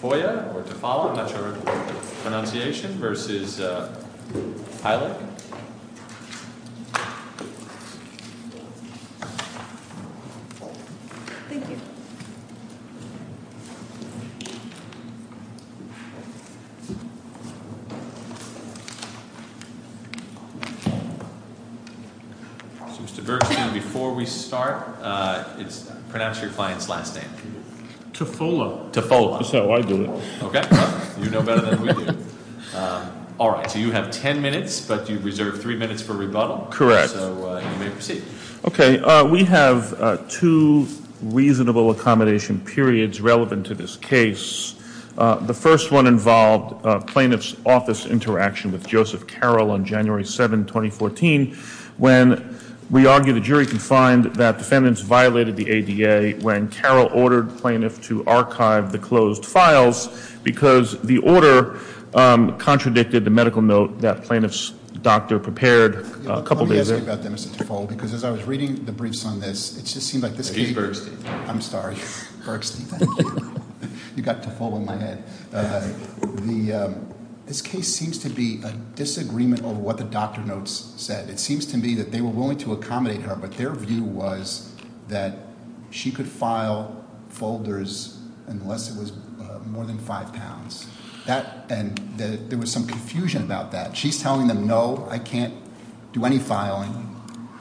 Foya or Tafolla, I'm not sure of the pronunciation, versus Heilig. So Mr. Bergstein, before we start, pronounce your client's last name. Tafolla. Tafolla, that's how I do it. Okay, well, you know better than we do. All right, so you have ten minutes, but you reserve three minutes for rebuttal. Correct. So you may proceed. Okay, we have two reasonable accommodation periods relevant to this case. The first one involved plaintiff's office interaction with Joseph Carroll on January 7, 2014, when we argue the jury can find that defendants violated the ADA when Carroll ordered plaintiff to archive the closed files because the order contradicted the medical note that plaintiff's doctor prepared a couple days earlier. Let me ask you about that, Mr. Tafolla, because as I was reading the briefs on this, it just seemed like this case- He's Bergstein. I'm sorry. Bergstein. You got Tafolla in my head. This case seems to be a disagreement over what the doctor notes said. It seems to me that they were willing to accommodate her, but their view was that she could file folders unless it was more than five pounds. And there was some confusion about that. She's telling them, no, I can't do any filing,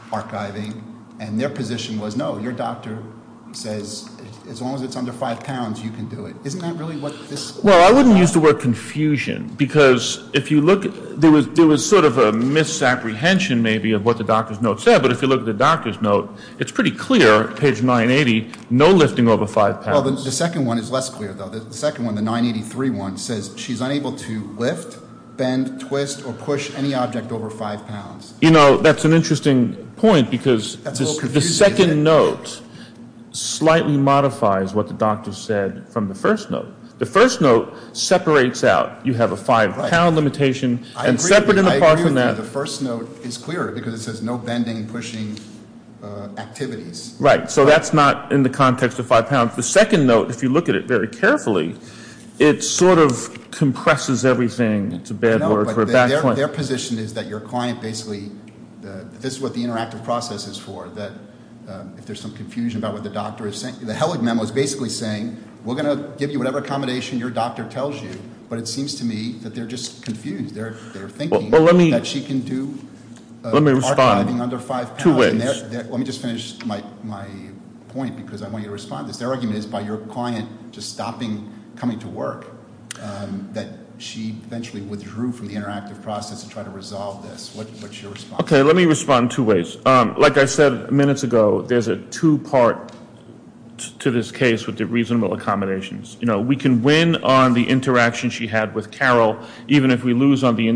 archiving. And their position was, no, your doctor says as long as it's under five pounds, you can do it. Isn't that really what this- Well, I wouldn't use the word confusion because if you look, there was sort of a misapprehension maybe of what the doctor's note said, but if you look at the doctor's note, it's pretty clear, page 980, no lifting over five pounds. Well, the second one is less clear, though. The second one, the 983 one, says she's unable to lift, bend, twist, or push any object over five pounds. You know, that's an interesting point because the second note slightly modifies what the doctor said from the first note. The first note separates out. You have a five-pound limitation and separate and apart from that- I agree with you. The first note is clearer because it says no bending, pushing activities. Right. So that's not in the context of five pounds. The second note, if you look at it very carefully, it sort of compresses everything. It's a bad word for a back point. Their position is that your client basically, this is what the interactive process is for, that if there's some confusion about what the doctor is saying, the Hellig memo is basically saying, we're going to give you whatever accommodation your doctor tells you, but it seems to me that they're just confused. They're thinking that she can do archiving under five pounds. Let me just finish my point because I want you to respond to this. Their argument is by your client just stopping, coming to work, that she eventually withdrew from the interactive process to try to resolve this. What's your response? Okay, let me respond two ways. Like I said minutes ago, there's a two-part to this case with the reasonable accommodations. You know, we can win on the interaction she had with Carol even if we lose on the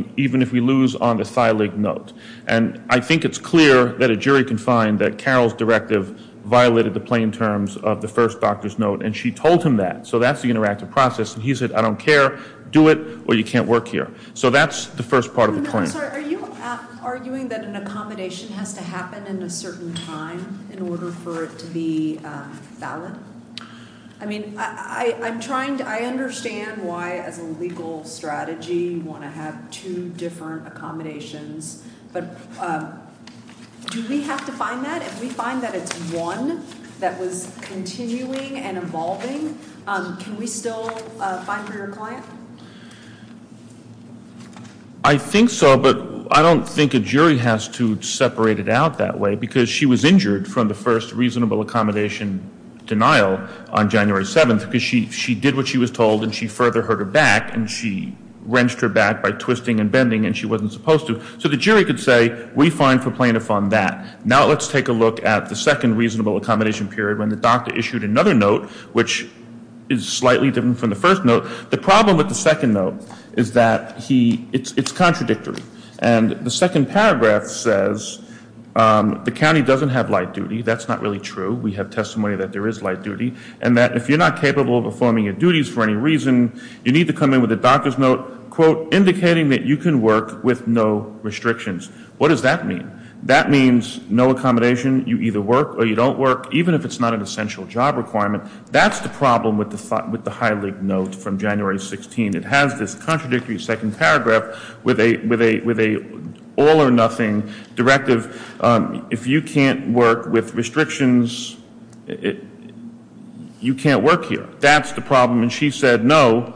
thylake note. And I think it's clear that a jury can find that Carol's directive violated the plain terms of the first doctor's note, and she told him that. So that's the interactive process, and he said, I don't care, do it, or you can't work here. So that's the first part of the claim. Are you arguing that an accommodation has to happen in a certain time in order for it to be valid? I mean, I understand why as a legal strategy you want to have two different accommodations, but do we have to find that? If we find that it's one that was continuing and evolving, can we still find for your client? I think so, but I don't think a jury has to separate it out that way because she was injured from the first reasonable accommodation denial on January 7th because she did what she was told and she further hurt her back, and she wrenched her back by twisting and bending and she wasn't supposed to. So the jury could say, we find for plaintiff on that. Now let's take a look at the second reasonable accommodation period when the doctor issued another note, which is slightly different from the first note. The problem with the second note is that it's contradictory, and the second paragraph says the county doesn't have light duty. That's not really true. We have testimony that there is light duty, and that if you're not capable of performing your duties for any reason, you need to come in with a doctor's note, quote, indicating that you can work with no restrictions. What does that mean? That means no accommodation. You either work or you don't work, even if it's not an essential job requirement. That's the problem with the High League note from January 16th. It has this contradictory second paragraph with an all or nothing directive. If you can't work with restrictions, you can't work here. That's the problem. And she said, no,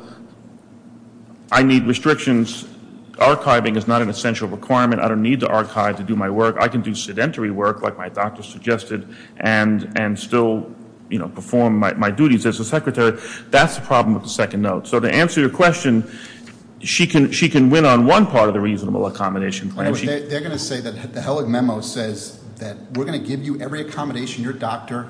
I need restrictions. Archiving is not an essential requirement. I don't need to archive to do my work. I can do sedentary work like my doctor suggested and still perform my duties as a secretary. That's the problem with the second note. So to answer your question, she can win on one part of the reasonable accommodation plan. They're going to say that the Hellig memo says that we're going to give you every accommodation your doctor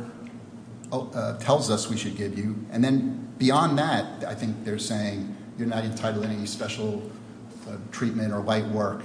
tells us we should give you. And then beyond that, I think they're saying you're not entitled to any special treatment or light work.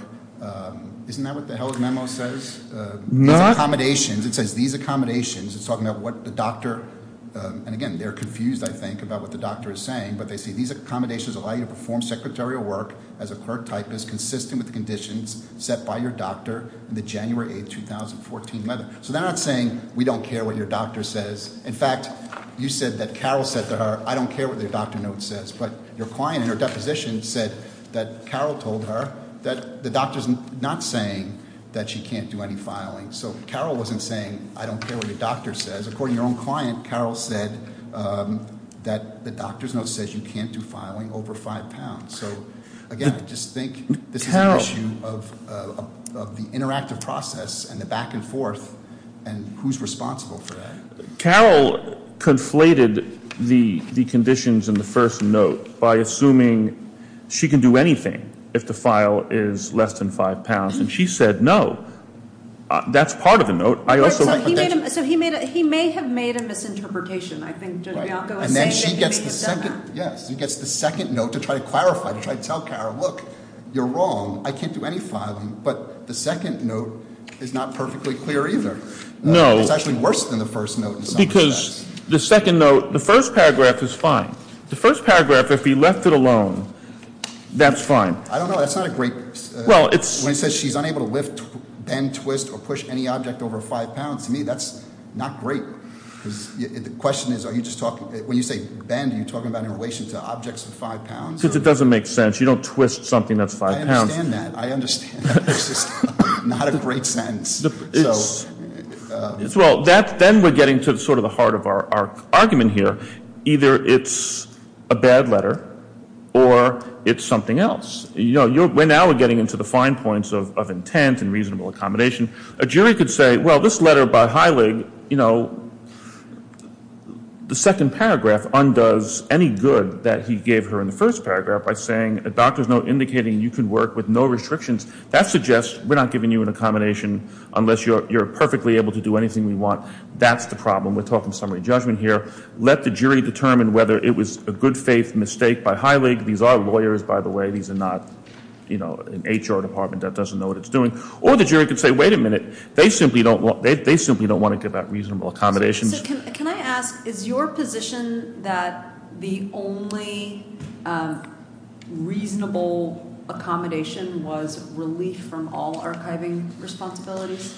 Isn't that what the Hellig memo says? No. It says these accommodations. It's talking about what the doctor, and again, they're confused, I think, about what the doctor is saying. But they say these accommodations allow you to perform secretarial work as a clerk typist, consistent with the conditions set by your doctor in the January 8, 2014 letter. So they're not saying we don't care what your doctor says. In fact, you said that Carol said to her, I don't care what your doctor note says. But your client in her deposition said that Carol told her that the doctor's not saying that she can't do any filing. So Carol wasn't saying I don't care what your doctor says. Because according to your own client, Carol said that the doctor's note says you can't do filing over five pounds. So, again, I just think this is an issue of the interactive process and the back and forth and who's responsible for that. Carol conflated the conditions in the first note by assuming she can do anything if the file is less than five pounds. And she said no. That's part of the note. I also- So he may have made a misinterpretation. I think Judge Bianco is saying that he may have done that. Yes. He gets the second note to try to clarify, to try to tell Carol, look, you're wrong. I can't do any filing. But the second note is not perfectly clear either. No. It's actually worse than the first note in some respects. Because the second note, the first paragraph is fine. The first paragraph, if he left it alone, that's fine. I don't know. That's not a great- Well, it's- When it says she's unable to lift, bend, twist, or push any object over five pounds, to me that's not great. Because the question is are you just talking-when you say bend, are you talking about in relation to objects of five pounds? Because it doesn't make sense. You don't twist something that's five pounds. I understand that. I understand that. It's just not a great sentence. So- Well, then we're getting to sort of the heart of our argument here. Either it's a bad letter or it's something else. We're now getting into the fine points of intent and reasonable accommodation. A jury could say, well, this letter by Heilig, you know, the second paragraph undoes any good that he gave her in the first paragraph by saying a doctor's note indicating you can work with no restrictions. That suggests we're not giving you an accommodation unless you're perfectly able to do anything we want. That's the problem. We're talking summary judgment here. Let the jury determine whether it was a good faith mistake by Heilig. These are lawyers, by the way. These are not an HR department that doesn't know what it's doing. Or the jury could say, wait a minute. They simply don't want to give out reasonable accommodations. Can I ask, is your position that the only reasonable accommodation was relief from all archiving responsibilities?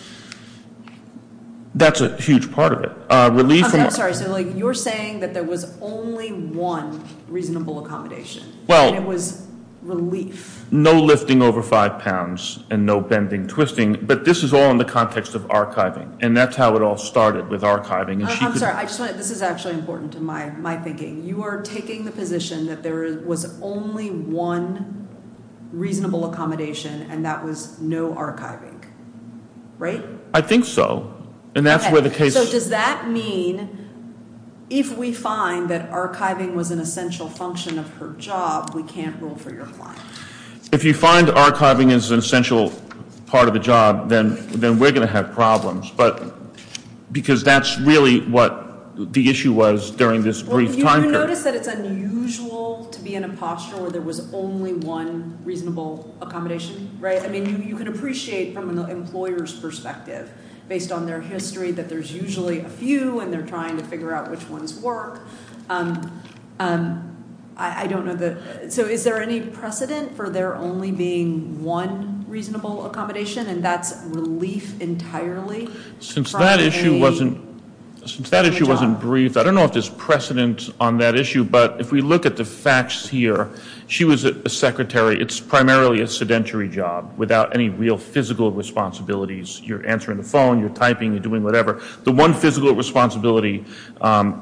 That's a huge part of it. I'm sorry. So you're saying that there was only one reasonable accommodation. And it was relief. No lifting over five pounds and no bending, twisting. But this is all in the context of archiving. And that's how it all started with archiving. I'm sorry. This is actually important to my thinking. You are taking the position that there was only one reasonable accommodation, and that was no archiving. Right? I think so. And that's where the case is. Does that mean if we find that archiving was an essential function of her job, we can't rule for your client? If you find archiving is an essential part of the job, then we're going to have problems. But because that's really what the issue was during this brief time period. Well, have you noticed that it's unusual to be in a posture where there was only one reasonable accommodation? Right? I mean, you can appreciate from an employer's perspective based on their history that there's usually a few, and they're trying to figure out which ones work. I don't know. So is there any precedent for there only being one reasonable accommodation, and that's relief entirely? Since that issue wasn't briefed, I don't know if there's precedent on that issue. But if we look at the facts here, she was a secretary. It's primarily a sedentary job without any real physical responsibilities. You're answering the phone. You're typing. You're doing whatever. The one physical responsibility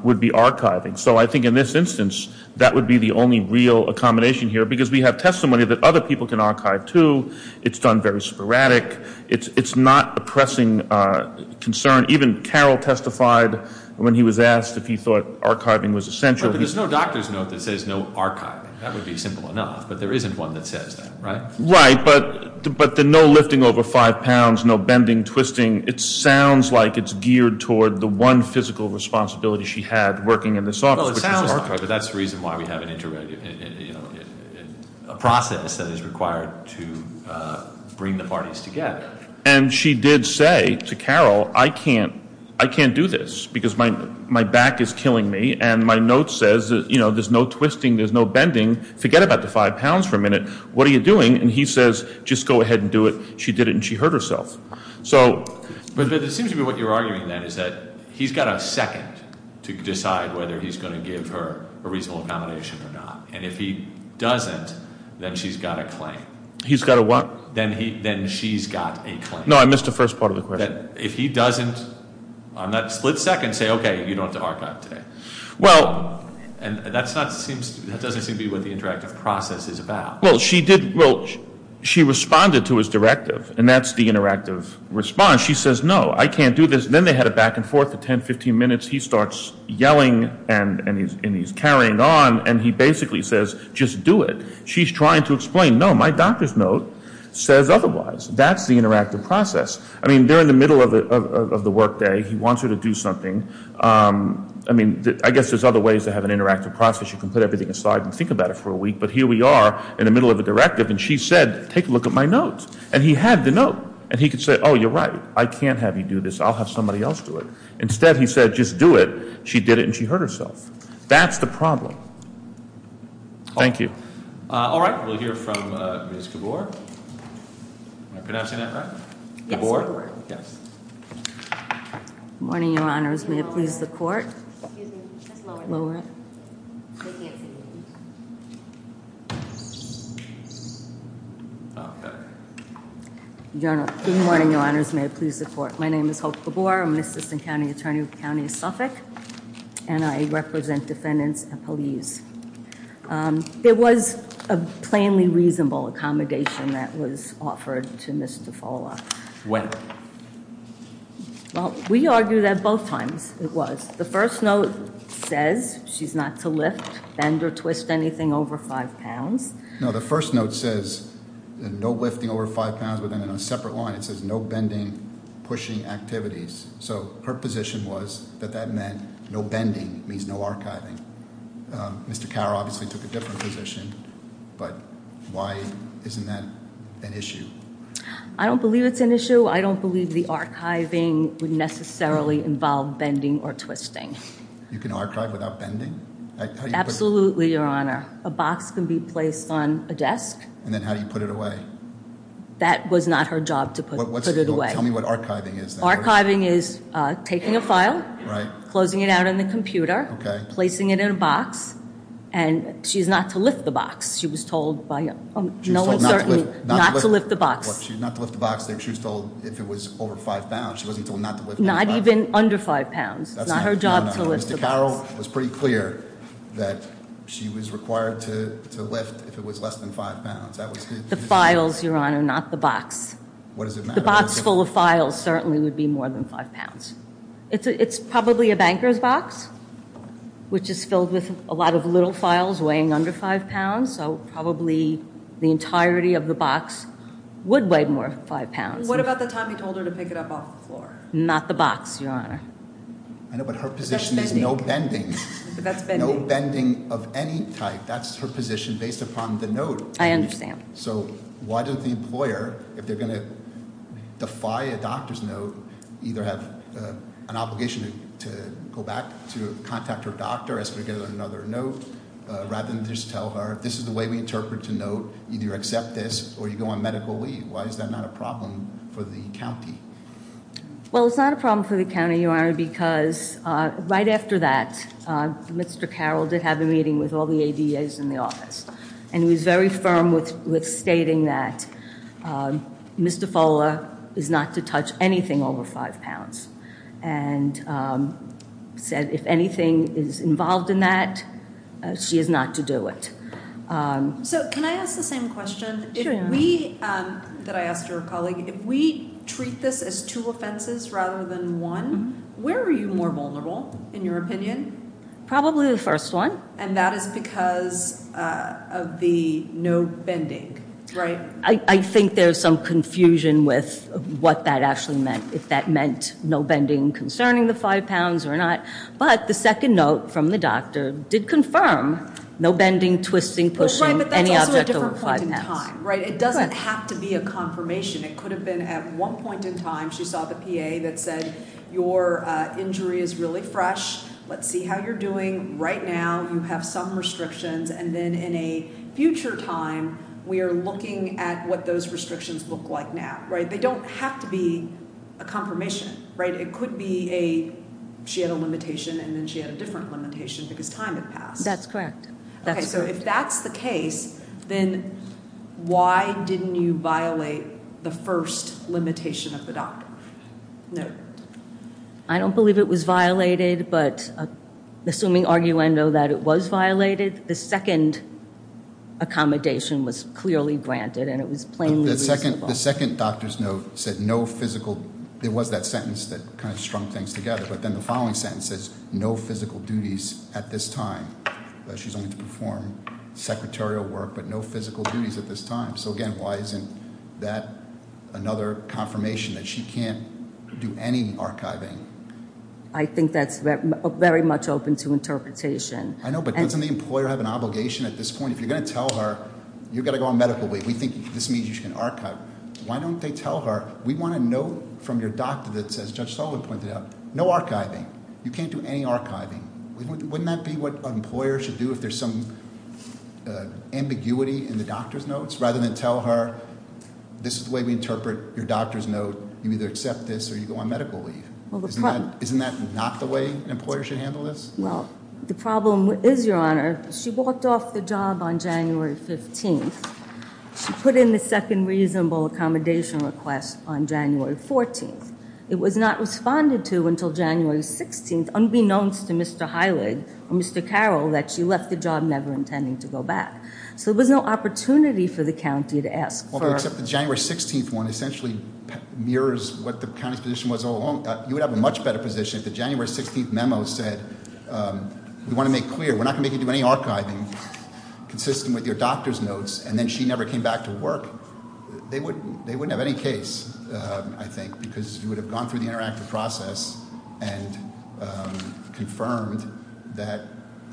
would be archiving. So I think in this instance, that would be the only real accommodation here because we have testimony that other people can archive too. It's done very sporadic. It's not a pressing concern. Even Carroll testified when he was asked if he thought archiving was essential. But there's no doctor's note that says no archiving. That would be simple enough, but there isn't one that says that, right? Right, but the no lifting over five pounds, no bending, twisting, it sounds like it's geared toward the one physical responsibility she had working in this office, which is archiving. Well, it sounds like it, but that's the reason why we have a process that is required to bring the parties together. And she did say to Carroll, I can't do this because my back is killing me, and my note says there's no twisting, there's no bending, forget about the five pounds for a minute. What are you doing? And he says, just go ahead and do it. She did it, and she hurt herself. But it seems to me what you're arguing then is that he's got a second to decide whether he's going to give her a reasonable accommodation or not. And if he doesn't, then she's got a claim. He's got a what? Then she's got a claim. No, I missed the first part of the question. If he doesn't on that split second say, okay, you don't have to archive today. Well- And that doesn't seem to be what the interactive process is about. Well, she responded to his directive, and that's the interactive response. She says, no, I can't do this. Then they had a back and forth of 10, 15 minutes. He starts yelling, and he's carrying on, and he basically says, just do it. She's trying to explain, no, my doctor's note says otherwise. That's the interactive process. I mean, they're in the middle of the workday. He wants her to do something. I mean, I guess there's other ways to have an interactive process. You can put everything aside and think about it for a week. But here we are in the middle of a directive, and she said, take a look at my note. And he had the note, and he could say, oh, you're right. I can't have you do this. I'll have somebody else do it. Instead, he said, just do it. She did it, and she hurt herself. That's the problem. Thank you. All right. We'll hear from Ms. Gabor. Am I pronouncing that right? Gabor? Yes. Good morning, Your Honors. May it please the court. Excuse me. Just lower it. Lower it. They can't see me. Okay. Good morning, Your Honors. May it please the court. My name is Hope Gabor. I'm an assistant county attorney with the county of Suffolk. And I represent defendants and police. There was a plainly reasonable accommodation that was offered to Ms. Tufola. When? Well, we argued that both times, it was. The first note says she's not to lift, bend, or twist anything over five pounds. No, the first note says no lifting over five pounds within a separate line. It says no bending, pushing activities. So her position was that that meant no bending means no archiving. Mr. Carr obviously took a different position, but why isn't that an issue? I don't believe it's an issue. I don't believe the archiving would necessarily involve bending or twisting. You can archive without bending? Absolutely, Your Honor. A box can be placed on a desk. And then how do you put it away? That was not her job to put it away. Tell me what archiving is. Archiving is taking a file, closing it out on the computer, placing it in a box. And she's not to lift the box. She was told by no one certainly not to lift the box. She's not to lift the box. She was told if it was over five pounds. She wasn't told not to lift the box. Not even under five pounds. It's not her job to lift the box. Mr. Carroll was pretty clear that she was required to lift if it was less than five pounds. The files, Your Honor, not the box. What does it matter? A box full of files certainly would be more than five pounds. It's probably a banker's box, which is filled with a lot of little files weighing under five pounds. So probably the entirety of the box would weigh more than five pounds. What about the time you told her to pick it up off the floor? Not the box, Your Honor. I know, but her position is no bending. No bending of any type. That's her position based upon the note. I understand. So why did the employer, if they're going to defy a doctor's note, either have an obligation to go back to contact her doctor as to get another note, rather than just tell her this is the way we interpret a note. Either you accept this or you go on medical leave. Why is that not a problem for the county? Well, it's not a problem for the county, Your Honor, because right after that, Mr. Carroll did have a meeting with all the ADAs in the office. And he was very firm with stating that Ms. DeFolla is not to touch anything over five pounds. And said if anything is involved in that, she is not to do it. So can I ask the same question that I asked her colleague? If we treat this as two offenses rather than one, where are you more vulnerable in your opinion? Probably the first one. And that is because of the no bending, right? I think there's some confusion with what that actually meant, if that meant no bending concerning the five pounds or not. But the second note from the doctor did confirm no bending, twisting, pushing, any object over five pounds. Right, but that's also a different point in time, right? It doesn't have to be a confirmation. It could have been at one point in time she saw the PA that said, your injury is really fresh. Let's see how you're doing. Right now you have some restrictions. And then in a future time, we are looking at what those restrictions look like now, right? They don't have to be a confirmation, right? It could be she had a limitation and then she had a different limitation because time had passed. That's correct. Okay, so if that's the case, then why didn't you violate the first limitation of the doctor? No. I don't believe it was violated, but assuming arguendo that it was violated, the second accommodation was clearly granted and it was plainly reasonable. The second doctor's note said no physical, it was that sentence that kind of strung things together. But then the following sentence says no physical duties at this time. She's only to perform secretarial work, but no physical duties at this time. So, again, why isn't that another confirmation that she can't do any archiving? I think that's very much open to interpretation. I know, but doesn't the employer have an obligation at this point? If you're going to tell her you've got to go on medical leave, we think this means you can archive, why don't they tell her we want a note from your doctor that says, as Judge Sullivan pointed out, no archiving. You can't do any archiving. Wouldn't that be what an employer should do if there's some ambiguity in the doctor's notes? Rather than tell her this is the way we interpret your doctor's note, you either accept this or you go on medical leave. Isn't that not the way an employer should handle this? Well, the problem is, Your Honor, she walked off the job on January 15th. She put in the second reasonable accommodation request on January 14th. It was not responded to until January 16th, unbeknownst to Mr. Heilig or Mr. Carroll, that she left the job never intending to go back. So there was no opportunity for the county to ask for- Well, except the January 16th one essentially mirrors what the county's position was all along. You would have a much better position if the January 16th memo said, we want to make clear, we're not going to make you do any archiving consistent with your doctor's notes, and then she never came back to work. They wouldn't have any case, I think, because you would have gone through the interactive process and confirmed that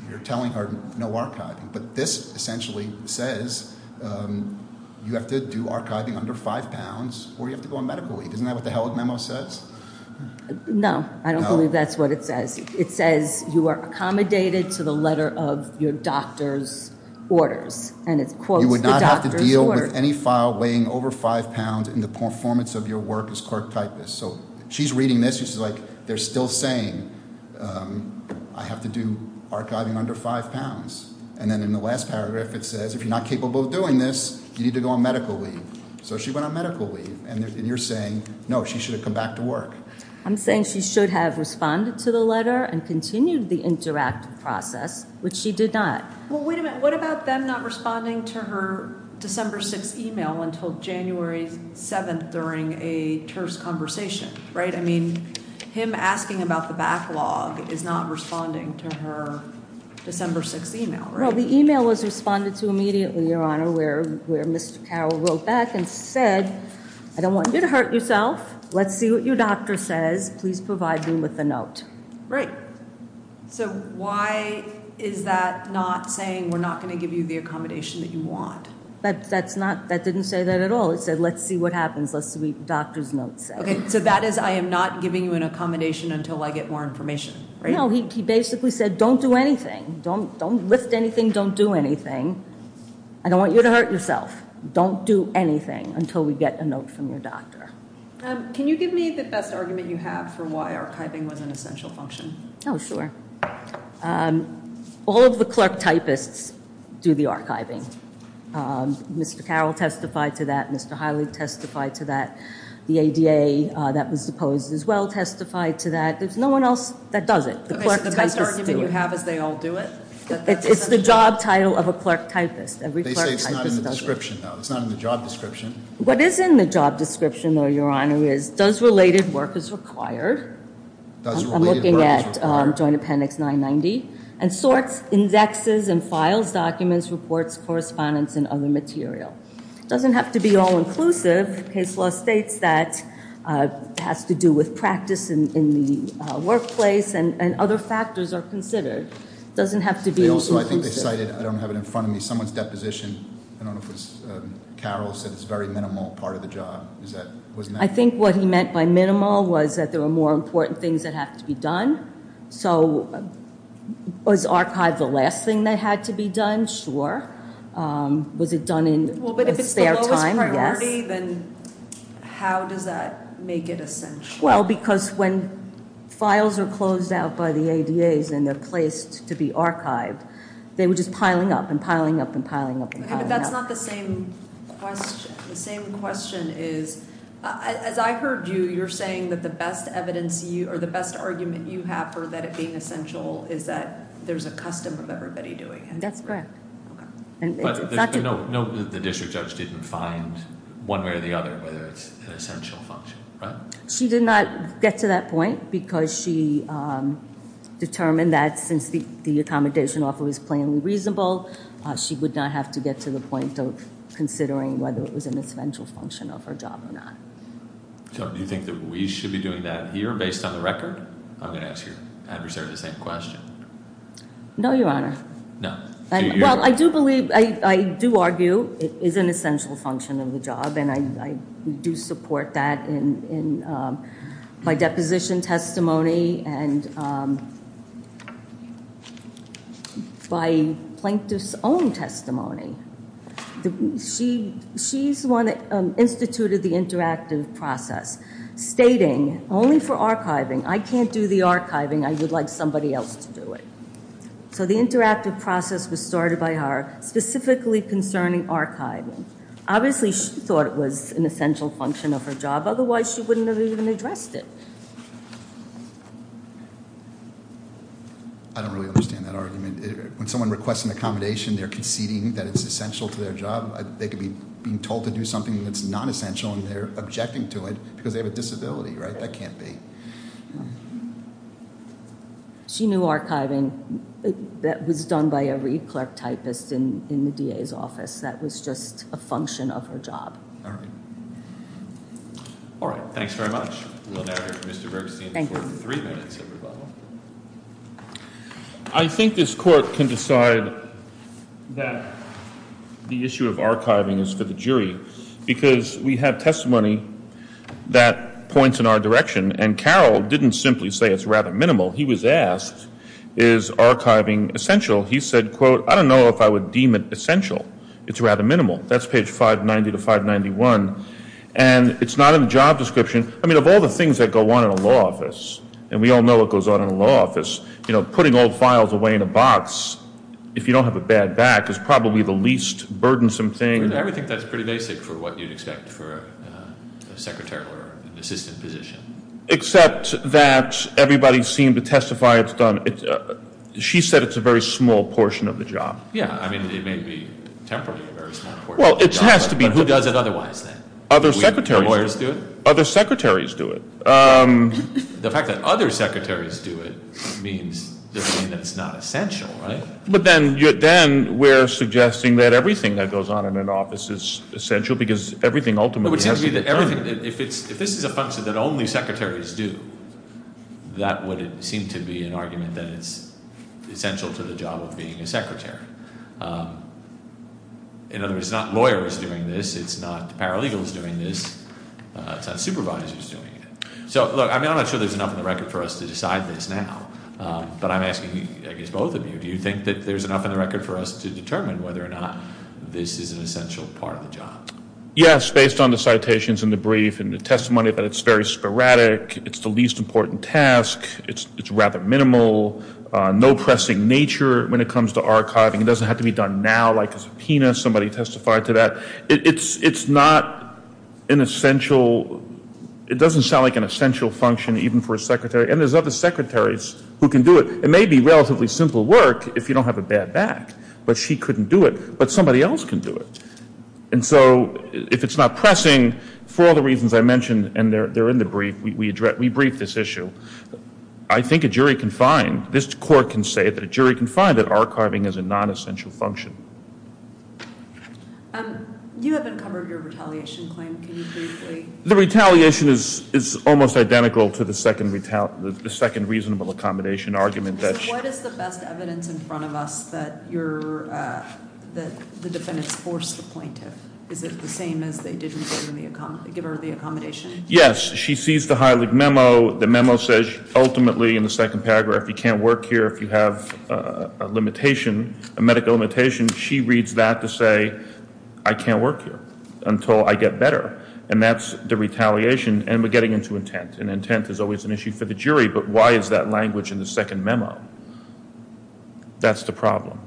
you're telling her no archiving. But this essentially says you have to do archiving under five pounds or you have to go on medical leave. Isn't that what the Heilig memo says? No, I don't believe that's what it says. It says you are accommodated to the letter of your doctor's orders, and it quotes the doctor's orders. Don't put any file weighing over five pounds in the performance of your work as clerk typist. So she's reading this, she's like, they're still saying I have to do archiving under five pounds. And then in the last paragraph it says, if you're not capable of doing this, you need to go on medical leave. So she went on medical leave, and you're saying, no, she should have come back to work. I'm saying she should have responded to the letter and continued the interactive process, which she did not. Well, wait a minute. What about them not responding to her December 6th email until January 7th during a terse conversation, right? I mean, him asking about the backlog is not responding to her December 6th email, right? Well, the email was responded to immediately, Your Honor, where Mr. Carroll wrote back and said, I don't want you to hurt yourself. Let's see what your doctor says. Please provide me with a note. Right. So why is that not saying we're not going to give you the accommodation that you want? That didn't say that at all. It said, let's see what happens, let's see what the doctor's note says. Okay, so that is, I am not giving you an accommodation until I get more information, right? No, he basically said, don't do anything. Don't lift anything, don't do anything. I don't want you to hurt yourself. Don't do anything until we get a note from your doctor. Can you give me the best argument you have for why archiving was an essential function? Oh, sure. All of the clerk typists do the archiving. Mr. Carroll testified to that. Mr. Hiley testified to that. The ADA that was deposed as well testified to that. There's no one else that does it. Okay, so the best argument you have is they all do it? It's the job title of a clerk typist. They say it's not in the description, though. It's not in the job description. What is in the job description, though, Your Honor, is does related work as required. Does related work as required. I'm looking at Joint Appendix 990. And sorts, indexes, and files, documents, reports, correspondence, and other material. It doesn't have to be all inclusive. Case law states that it has to do with practice in the workplace, and other factors are considered. It doesn't have to be all inclusive. Also, I think they cited, I don't have it in front of me, someone's deposition. Carol said it's a very minimal part of the job. I think what he meant by minimal was that there were more important things that have to be done. So was archive the last thing that had to be done? Sure. Well, but if it's the lowest priority, then how does that make it essential? Well, because when files are closed out by the ADAs and they're placed to be archived, they were just piling up and piling up and piling up. But that's not the same question. The same question is, as I heard you, you're saying that the best evidence, or the best argument you have for that it being essential is that there's a custom of everybody doing it. That's correct. But note that the district judge didn't find one way or the other whether it's an essential function, right? She did not get to that point because she determined that since the accommodation offer was plainly reasonable, she would not have to get to the point of considering whether it was an essential function of her job or not. So do you think that we should be doing that here based on the record? I'm going to ask your adversary the same question. No, Your Honor. No. Well, I do believe, I do argue it is an essential function of the job. And I do support that in my deposition testimony. And by plaintiff's own testimony, she's the one that instituted the interactive process, stating only for archiving, I can't do the archiving, I would like somebody else to do it. So the interactive process was started by her specifically concerning archiving. Obviously, she thought it was an essential function of her job. Otherwise, she wouldn't have even addressed it. I don't really understand that argument. When someone requests an accommodation, they're conceding that it's essential to their job. They could be being told to do something that's not essential, and they're objecting to it because they have a disability, right? That can't be. She knew archiving. That was done by every clerk typist in the DA's office. That was just a function of her job. All right. All right. Thanks very much. We'll now hear from Mr. Bergstein for three minutes of rebuttal. I think this court can decide that the issue of archiving is for the jury because we have testimony that points in our direction, and Carroll didn't simply say it's rather minimal. He was asked, is archiving essential? He said, quote, I don't know if I would deem it essential. It's rather minimal. That's page 590 to 591, and it's not in the job description. I mean, of all the things that go on in a law office, and we all know what goes on in a law office, putting old files away in a box if you don't have a bad back is probably the least burdensome thing. I would think that's pretty basic for what you'd expect for a secretary or an assistant position. Except that everybody seemed to testify it's done. She said it's a very small portion of the job. Yeah. I mean, it may be temporarily a very small portion of the job. Well, it has to be. But who does it otherwise then? Other secretaries. Do lawyers do it? Other secretaries do it. The fact that other secretaries do it means they're saying that it's not essential, right? But then we're suggesting that everything that goes on in an office is essential because everything ultimately has to be done. If this is a function that only secretaries do, that would seem to be an argument that it's essential to the job of being a secretary. In other words, it's not lawyers doing this. It's not paralegals doing this. It's not supervisors doing it. So, look, I'm not sure there's enough in the record for us to decide this now, but I'm asking, I guess, both of you. Do you think that there's enough in the record for us to determine whether or not this is an essential part of the job? Yes, based on the citations in the brief and the testimony, but it's very sporadic. It's the least important task. It's rather minimal. No pressing nature when it comes to archiving. It doesn't have to be done now like a subpoena. Somebody testified to that. It's not an essential. It doesn't sound like an essential function even for a secretary. And there's other secretaries who can do it. It may be relatively simple work if you don't have a bad back. But she couldn't do it. But somebody else can do it. And so if it's not pressing for the reasons I mentioned, and they're in the brief, we brief this issue. I think a jury can find, this court can say that a jury can find that archiving is a non-essential function. You haven't covered your retaliation claim. Can you briefly? The retaliation is almost identical to the second reasonable accommodation argument. What is the best evidence in front of us that the defendants forced the plaintiff? Is it the same as they didn't give her the accommodation? Yes. She sees the Heilig memo. The memo says ultimately in the second paragraph you can't work here if you have a medical limitation. She reads that to say I can't work here until I get better. And that's the retaliation. And we're getting into intent. And intent is always an issue for the jury. But why is that language in the second memo? That's the problem.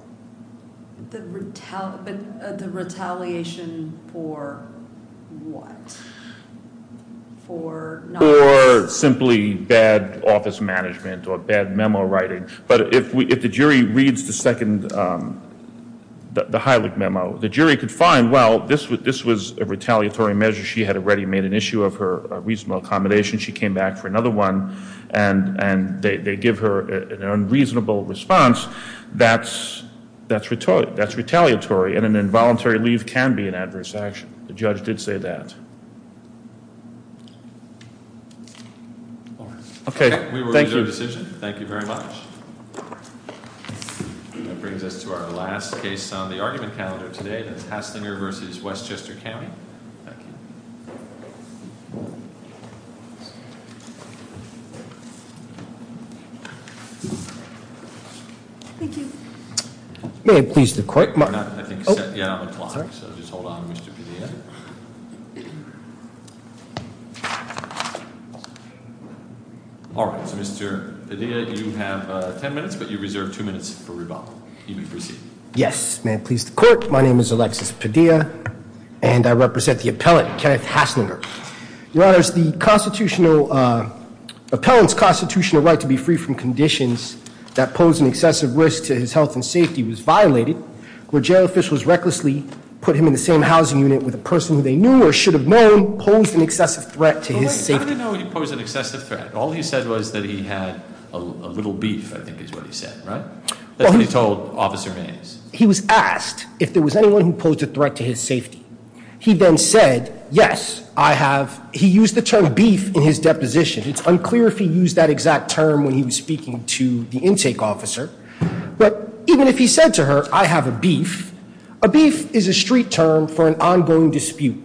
The retaliation for what? For not working? For simply bad office management or bad memo writing. But if the jury reads the second, the Heilig memo, the jury could find, well, this was a retaliatory measure. She had already made an issue of her reasonable accommodation. She came back for another one. And they give her an unreasonable response. That's retaliatory. And an involuntary leave can be an adverse action. The judge did say that. Okay. Thank you. We will adjourn the decision. Thank you very much. That brings us to our last case on the argument calendar today. It's Haslinger v. Westchester County. Thank you. Thank you. May it please the court. You're not, I think, set. Yeah, I'm a clock. Sorry. So just hold on, Mr. Padilla. All right. So, Mr. Padilla, you have ten minutes, but you reserve two minutes for rebuttal. You may proceed. Yes. May it please the court. My name is Alexis Padilla, and I represent the appellant, Kenneth Haslinger. Your Honors, the constitutional, appellant's constitutional right to be free from conditions that pose an excessive risk to his health and safety was violated. Where jail officials recklessly put him in the same housing unit with a person who they knew or should have known posed an excessive threat to his safety. How did he know he posed an excessive threat? All he said was that he had a little beef, I think is what he said, right? That's what he told Officer Hayes. He was asked if there was anyone who posed a threat to his safety. He then said, yes, I have. He used the term beef in his deposition. It's unclear if he used that exact term when he was speaking to the intake officer. But even if he said to her, I have a beef, a beef is a street term for an ongoing dispute.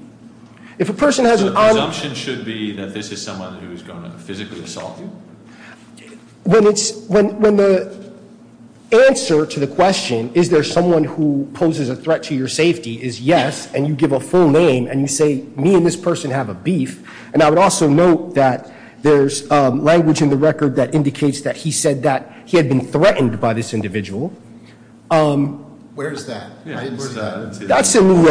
If a person has an ongoing- So the assumption should be that this is someone who is going to physically assault you? When the answer to the question, is there someone who poses a threat to your safety, is yes. And you give a full name and you say, me and this person have a beef. And I would also note that there's language in the record that indicates that he said that he had been threatened by this individual. Where is that? I didn't see that. That's in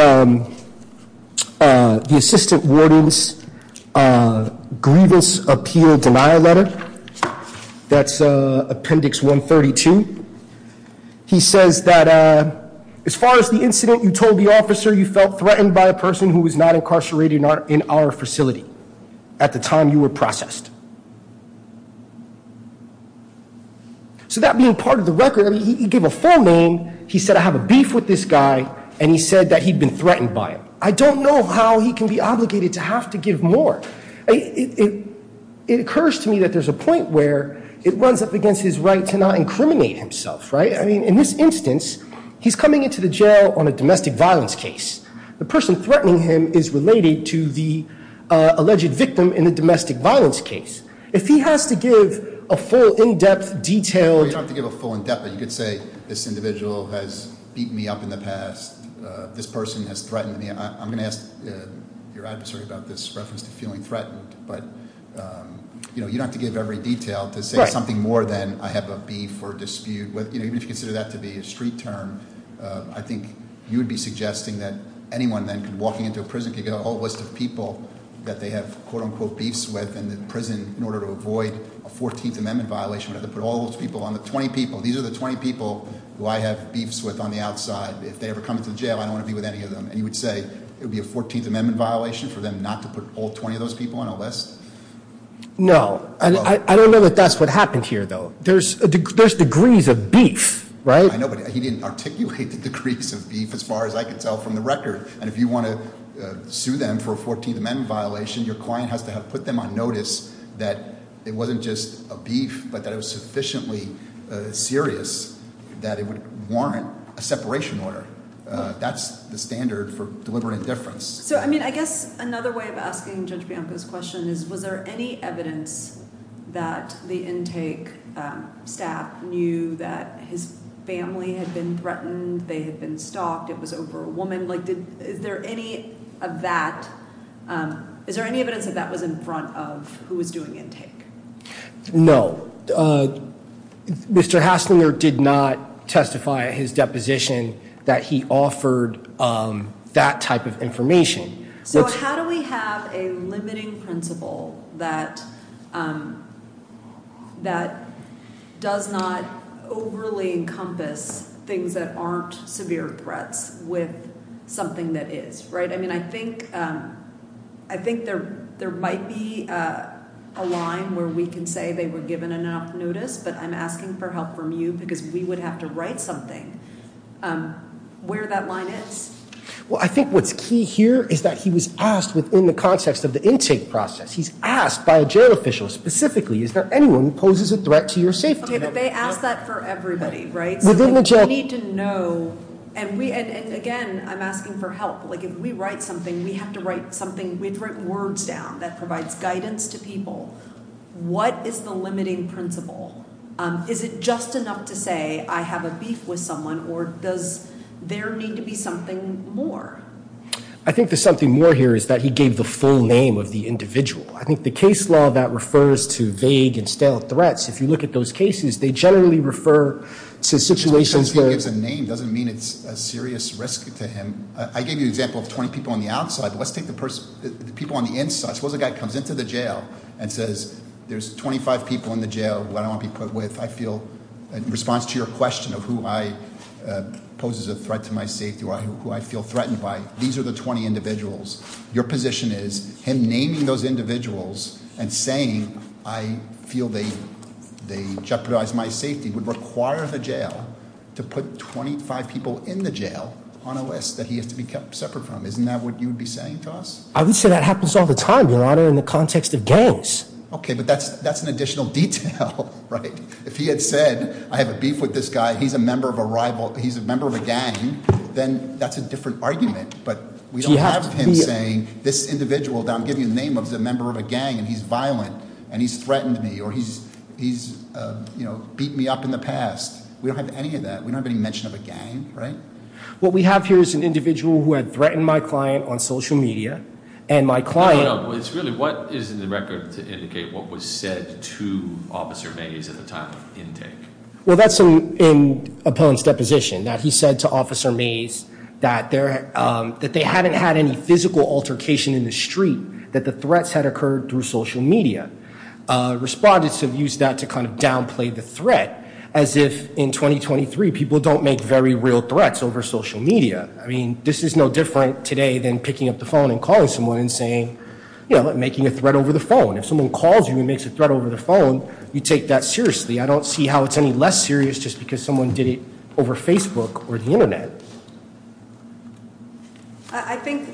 the assistant warden's grievance appeal denial letter. That's appendix 132. He says that as far as the incident you told the officer you felt threatened by a person who was not incarcerated in our facility at the time you were processed. So that being part of the record, he gave a full name, he said I have a beef with this guy, and he said that he'd been threatened by him. I don't know how he can be obligated to have to give more. It occurs to me that there's a point where it runs up against his right to not incriminate himself, right? I mean, in this instance, he's coming into the jail on a domestic violence case. The person threatening him is related to the alleged victim in the domestic violence case. If he has to give a full, in-depth, detailed- You don't have to give a full in-depth. You could say this individual has beat me up in the past. This person has threatened me. I'm going to ask your adversary about this reference to feeling threatened. But you don't have to give every detail to say something more than I have a beef or dispute. Even if you consider that to be a street term, I think you would be suggesting that anyone then could walk into a prison, could get a whole list of people that they have, quote unquote, beefs with. And the prison, in order to avoid a 14th Amendment violation, would have to put all those people on the 20 people. These are the 20 people who I have beefs with on the outside. If they ever come into the jail, I don't want to be with any of them. And you would say it would be a 14th Amendment violation for them not to put all 20 of those people on a list? No. I don't know that that's what happened here, though. There's degrees of beef, right? I know, but he didn't articulate the degrees of beef as far as I can tell from the record. And if you want to sue them for a 14th Amendment violation, your client has to have put them on notice that it wasn't just a beef, but that it was sufficiently serious that it would warrant a separation order. That's the standard for deliberate indifference. So, I mean, I guess another way of asking Judge Bianco's question is, was there any evidence that the intake staff knew that his family had been threatened, they had been stalked, it was over a woman? Is there any evidence that that was in front of who was doing intake? No. Mr. Hasslinger did not testify at his deposition that he offered that type of information. So how do we have a limiting principle that does not overly encompass things that aren't severe threats with something that is? I mean, I think there might be a line where we can say they were given enough notice, but I'm asking for help from you because we would have to write something where that line is. Well, I think what's key here is that he was asked within the context of the intake process. He's asked by a jail official specifically, is there anyone who poses a threat to your safety? Okay, but they ask that for everybody, right? We need to know, and again, I'm asking for help. Like, if we write something, we have to write words down that provides guidance to people. What is the limiting principle? Is it just enough to say I have a beef with someone or does there need to be something more? I think there's something more here is that he gave the full name of the individual. I think the case law that refers to vague and stale threats, if you look at those cases, they generally refer to situations where- Just because he gives a name doesn't mean it's a serious risk to him. I gave you an example of 20 people on the outside, but let's take the people on the inside. Suppose a guy comes into the jail and says there's 25 people in the jail who I don't want to be put with. I feel, in response to your question of who poses a threat to my safety or who I feel threatened by, these are the 20 individuals. Your position is him naming those individuals and saying I feel they jeopardize my safety would require the jail to put 25 people in the jail on a list that he has to be kept separate from. Isn't that what you would be saying to us? I would say that happens all the time, your honor, in the context of gangs. Okay, but that's an additional detail, right? If he had said I have a beef with this guy, he's a member of a rival, he's a member of a gang, then that's a different argument. But we don't have him saying this individual that I'm giving the name of is a member of a gang and he's violent and he's threatened me or he's beat me up in the past. We don't have any of that. We don't have any mention of a gang, right? What we have here is an individual who had threatened my client on social media. And my client- No, no. It's really what is in the record to indicate what was said to Officer Mays at the time of intake? Well, that's in Opponent's deposition that he said to Officer Mays that they haven't had any physical altercation in the street, that the threats had occurred through social media. Respondents have used that to kind of downplay the threat as if in 2023 people don't make very real threats over social media. I mean, this is no different today than picking up the phone and calling someone and saying, you know, making a threat over the phone. If someone calls you and makes a threat over the phone, you take that seriously. I don't see how it's any less serious just because someone did it over Facebook or the Internet. I think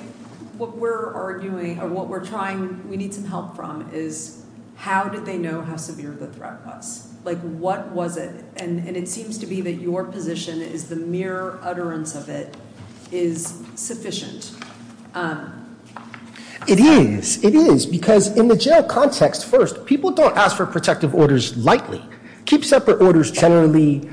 what we're arguing or what we're trying- we need some help from is how did they know how severe the threat was? Like, what was it? And it seems to be that your position is the mere utterance of it is sufficient. It is. It is because in the jail context, first, people don't ask for protective orders lightly. Keep separate orders generally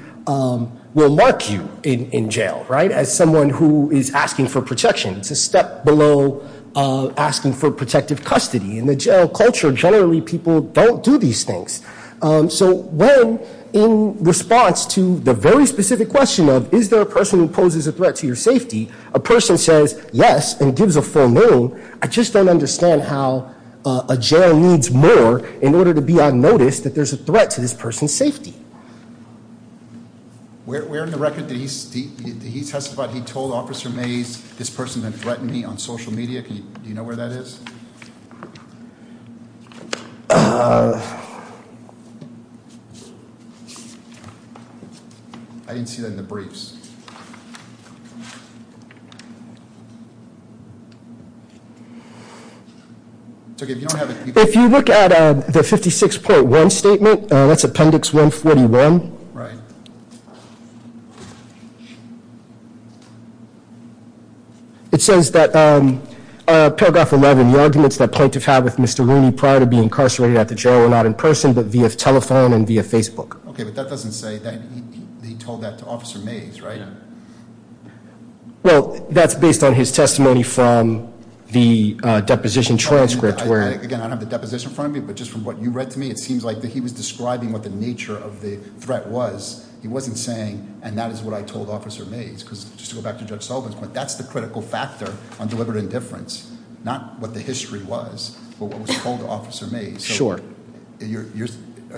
will mark you in jail, right, as someone who is asking for protection. It's a step below asking for protective custody. In the jail culture, generally people don't do these things. So when in response to the very specific question of is there a person who poses a threat to your safety, a person says yes and gives a full no. I just don't understand how a jail needs more in order to be on notice that there's a threat to this person's safety. Where in the record did he testify that he told Officer Mays this person had threatened me on social media? Do you know where that is? I didn't see that in the briefs. If you look at the 56.1 statement, that's Appendix 141. Right. It says that paragraph 11, the arguments that plaintiff had with Mr. Rooney prior to being incarcerated at the jail were not in person but via telephone and via Facebook. Okay, but that doesn't say that he told that to Officer Mays, right? Yeah. Well, that's based on his testimony from the deposition transcript where- And that is what I told Officer Mays. Just to go back to Judge Sullivan's point, that's the critical factor on deliberate indifference. Not what the history was, but what was told to Officer Mays. Sure. Are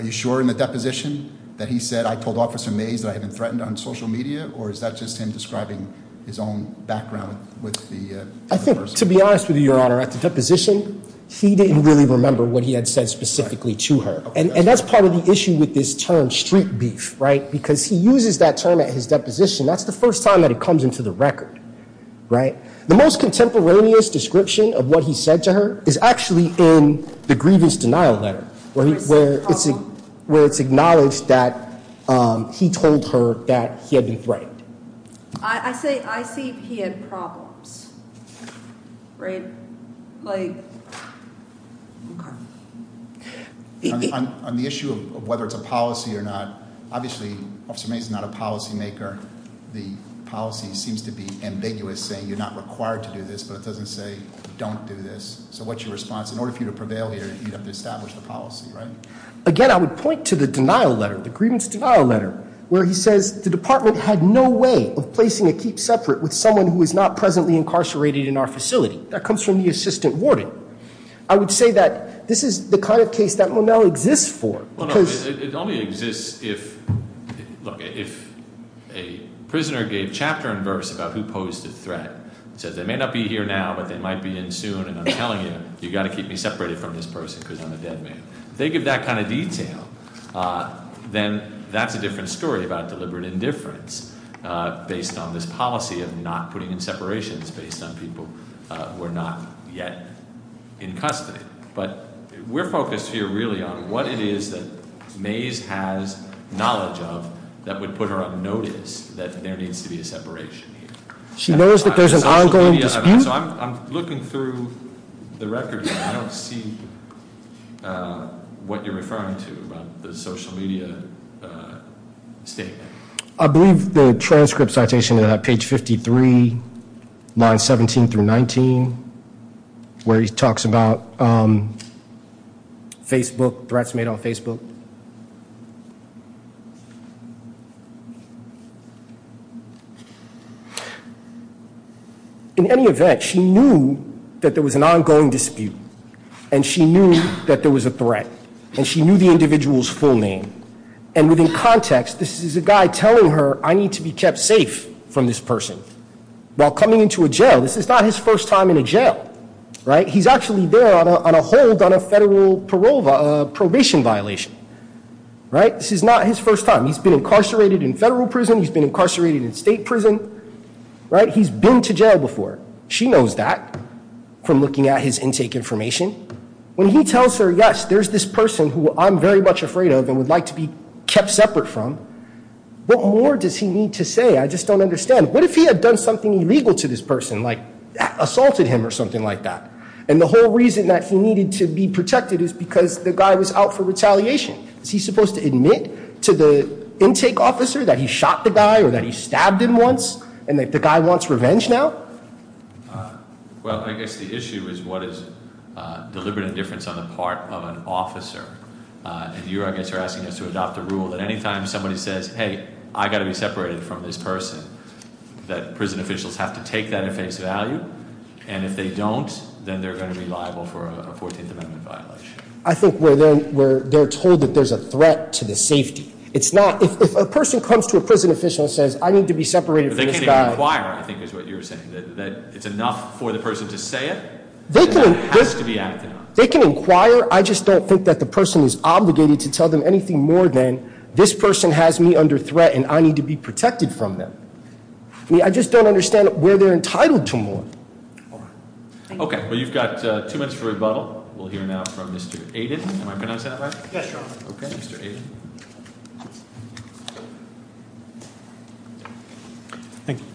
you sure in the deposition that he said I told Officer Mays that I had been threatened on social media? Or is that just him describing his own background with the person? I think, to be honest with you, Your Honor, at the deposition, he didn't really remember what he had said specifically to her. And that's part of the issue with this term, street beef, right? Because he uses that term at his deposition. That's the first time that it comes into the record, right? The most contemporaneous description of what he said to her is actually in the grievance denial letter where it's acknowledged that he told her that he had been threatened. I say I see he had problems, right? On the issue of whether it's a policy or not, obviously Officer Mays is not a policy maker. The policy seems to be ambiguous, saying you're not required to do this, but it doesn't say don't do this. So what's your response? In order for you to prevail here, you'd have to establish the policy, right? Again, I would point to the denial letter, the grievance denial letter, where he says the department had no way of placing a keep separate with someone who is not presently incarcerated in our facility. That comes from the assistant warden. I would say that this is the kind of case that Monell exists for because- It only exists if, look, if a prisoner gave chapter and verse about who posed a threat, said they may not be here now, but they might be in soon, and I'm telling you, you've got to keep me separated from this person because I'm a dead man. If they give that kind of detail, then that's a different story about deliberate indifference based on this policy of not putting in separations based on people who are not yet in custody. But we're focused here really on what it is that Mays has knowledge of that would put her on notice that there needs to be a separation here. She knows that there's an ongoing dispute? So I'm looking through the records and I don't see what you're referring to about the social media statement. I believe the transcript citation at page 53, lines 17 through 19, where he talks about Facebook, threats made on Facebook. In any event, she knew that there was an ongoing dispute, and she knew that there was a threat, and she knew the individual's full name. And within context, this is a guy telling her, I need to be kept safe from this person. While coming into a jail, this is not his first time in a jail, right? He's actually there on a hold on a federal probation violation, right? This is not his first time. He's been incarcerated in federal prison. He's been incarcerated in state prison, right? He's been to jail before. She knows that from looking at his intake information. When he tells her, yes, there's this person who I'm very much afraid of and would like to be kept separate from, what more does he need to say? I just don't understand. What if he had done something illegal to this person, like assaulted him or something like that? And the whole reason that he needed to be protected is because the guy was out for retaliation. Is he supposed to admit to the intake officer that he shot the guy or that he stabbed him once and that the guy wants revenge now? Well, I guess the issue is what is deliberate indifference on the part of an officer. And you, I guess, are asking us to adopt a rule that anytime somebody says, hey, I gotta be separated from this person, that prison officials have to take that at face value, and if they don't, then they're going to be liable for a 14th Amendment violation. I think where they're told that there's a threat to the safety. It's not, if a person comes to a prison official and says, I need to be separated from this guy- But they can't inquire, I think is what you're saying, that it's enough for the person to say it. They can- It has to be acted on. They can inquire, I just don't think that the person is obligated to tell them anything more than, this person has me under threat and I need to be protected from them. I mean, I just don't understand where they're entitled to more. All right. Okay, well, you've got two minutes for rebuttal. We'll hear now from Mr. Aiden. Am I pronouncing that right? Yes, Your Honor. Okay, Mr. Aiden.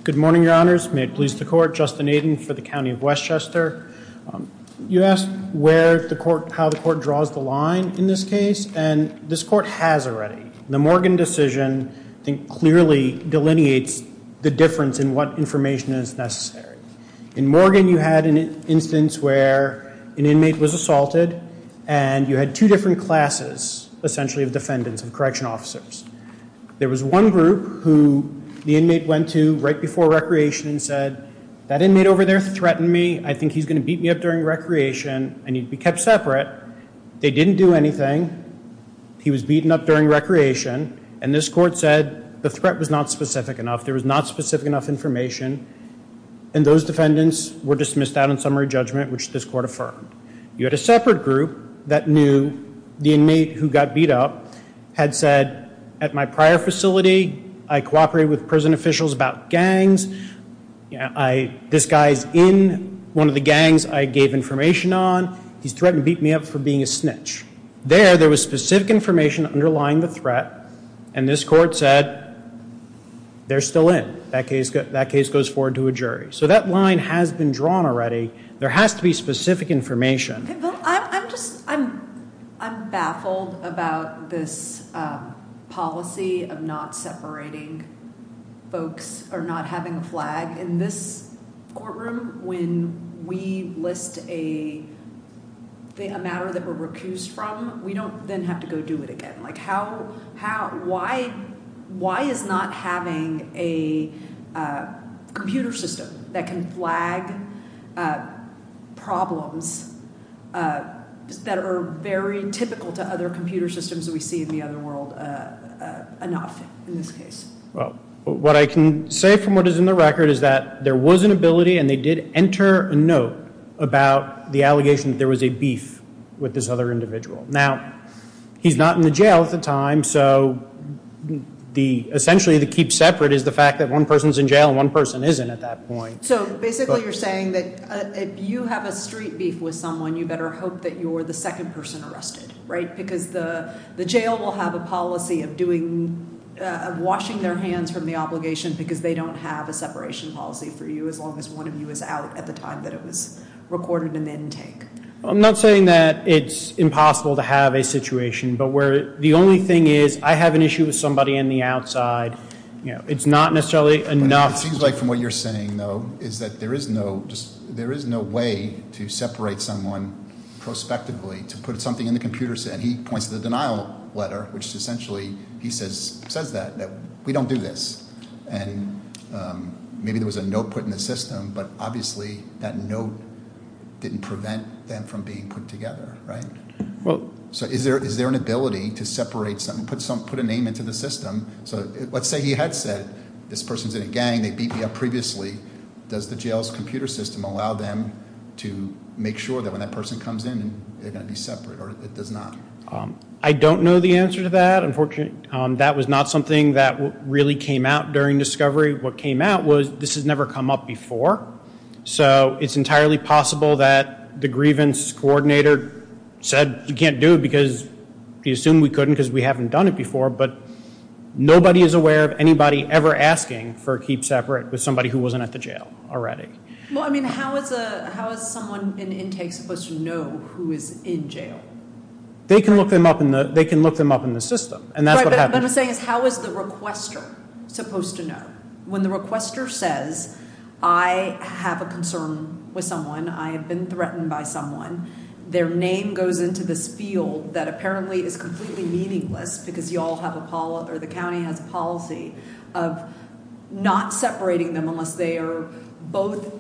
Good morning, Your Honors. May it please the Court. Justin Aiden for the County of Westchester. You asked where the court, how the court draws the line in this case, and this court has already. The Morgan decision, I think, clearly delineates the difference in what information is necessary. In Morgan, you had an instance where an inmate was assaulted, and you had two different classes, essentially, of defendants and correction officers. There was one group who the inmate went to right before recreation and said, that inmate over there threatened me. I think he's going to beat me up during recreation. I need to be kept separate. They didn't do anything. He was beaten up during recreation, and this court said the threat was not specific enough. There was not specific enough information, and those defendants were dismissed out on summary judgment, which this court affirmed. You had a separate group that knew the inmate who got beat up had said, at my prior facility, I cooperated with prison officials about gangs. This guy's in one of the gangs I gave information on. He's threatened to beat me up for being a snitch. There, there was specific information underlying the threat, and this court said they're still in. That case goes forward to a jury. So that line has been drawn already. There has to be specific information. I'm baffled about this policy of not separating folks or not having a flag. In this courtroom, when we list a matter that we're recused from, we don't then have to go do it again. Why is not having a computer system that can flag problems that are very typical to other computer systems that we see in the other world enough in this case? Well, what I can say from what is in the record is that there was an ability, and they did enter a note about the allegation that there was a beef with this other individual. Now, he's not in the jail at the time, so essentially to keep separate is the fact that one person's in jail and one person isn't at that point. So basically you're saying that if you have a street beef with someone, you better hope that you're the second person arrested, right, because the jail will have a policy of washing their hands from the obligation because they don't have a separation policy for you as long as one of you is out at the time that it was recorded in the intake. I'm not saying that it's impossible to have a situation, but where the only thing is I have an issue with somebody in the outside, it's not necessarily enough. It seems like from what you're saying, though, is that there is no way to separate someone prospectively to put something in the computer, and he points to the denial letter, which essentially he says that we don't do this. And maybe there was a note put in the system, but obviously that note didn't prevent them from being put together, right? So is there an ability to separate something, put a name into the system? So let's say he had said this person's in a gang. They beat me up previously. Does the jail's computer system allow them to make sure that when that person comes in, they're going to be separate, or it does not? I don't know the answer to that, unfortunately. That was not something that really came out during discovery. What came out was this has never come up before, so it's entirely possible that the grievance coordinator said you can't do it because he assumed we couldn't because we haven't done it before, but nobody is aware of anybody ever asking for keep separate with somebody who wasn't at the jail already. Well, I mean, how is someone in intake supposed to know who is in jail? They can look them up in the system, and that's what happened. What I'm saying is how is the requester supposed to know? When the requester says I have a concern with someone, I have been threatened by someone, their name goes into this field that apparently is completely meaningless because you all have a policy or the county has a policy of not separating them unless they are both,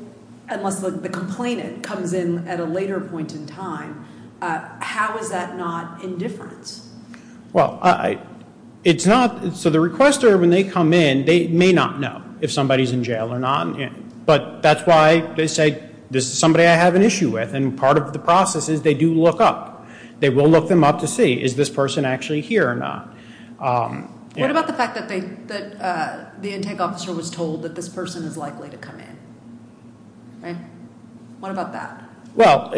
unless the complainant comes in at a later point in time, how is that not indifferent? Well, it's not. So the requester, when they come in, they may not know if somebody is in jail or not, but that's why they say this is somebody I have an issue with, and part of the process is they do look up. They will look them up to see is this person actually here or not. What about the fact that the intake officer was told that this person is likely to come in? What about that? Well,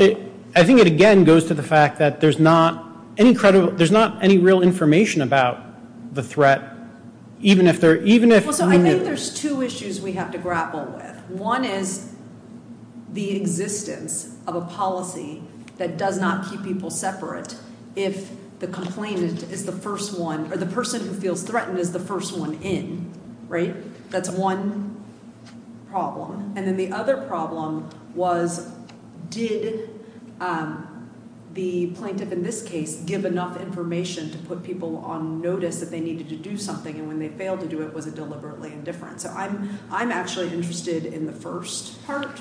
I think it, again, goes to the fact that there's not any credible, there's not any real information about the threat even if they're, even if. Well, so I think there's two issues we have to grapple with. One is the existence of a policy that does not keep people separate if the complainant is the first one or the person who feels threatened is the first one in, right? That's one problem. And then the other problem was did the plaintiff in this case give enough information to put people on notice that they needed to do something, and when they failed to do it, was it deliberately indifferent? So I'm actually interested in the first part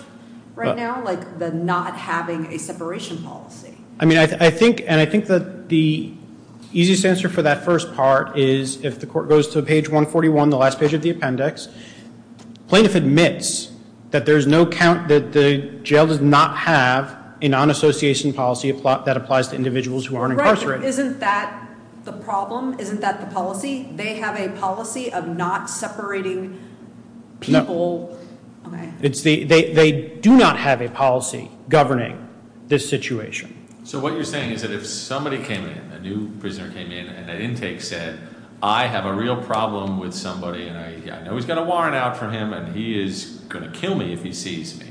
right now, like the not having a separation policy. I mean, I think, and I think that the easiest answer for that first part is if the court goes to page 141, the last page of the appendix, plaintiff admits that there's no count, that the jail does not have a non-association policy that applies to individuals who are incarcerated. Isn't that the problem? Isn't that the policy? They have a policy of not separating people. No. Okay. They do not have a policy governing this situation. So what you're saying is that if somebody came in, a new prisoner came in, and at intake said, I have a real problem with somebody, and I know he's got a warrant out for him, and he is going to kill me if he sees me,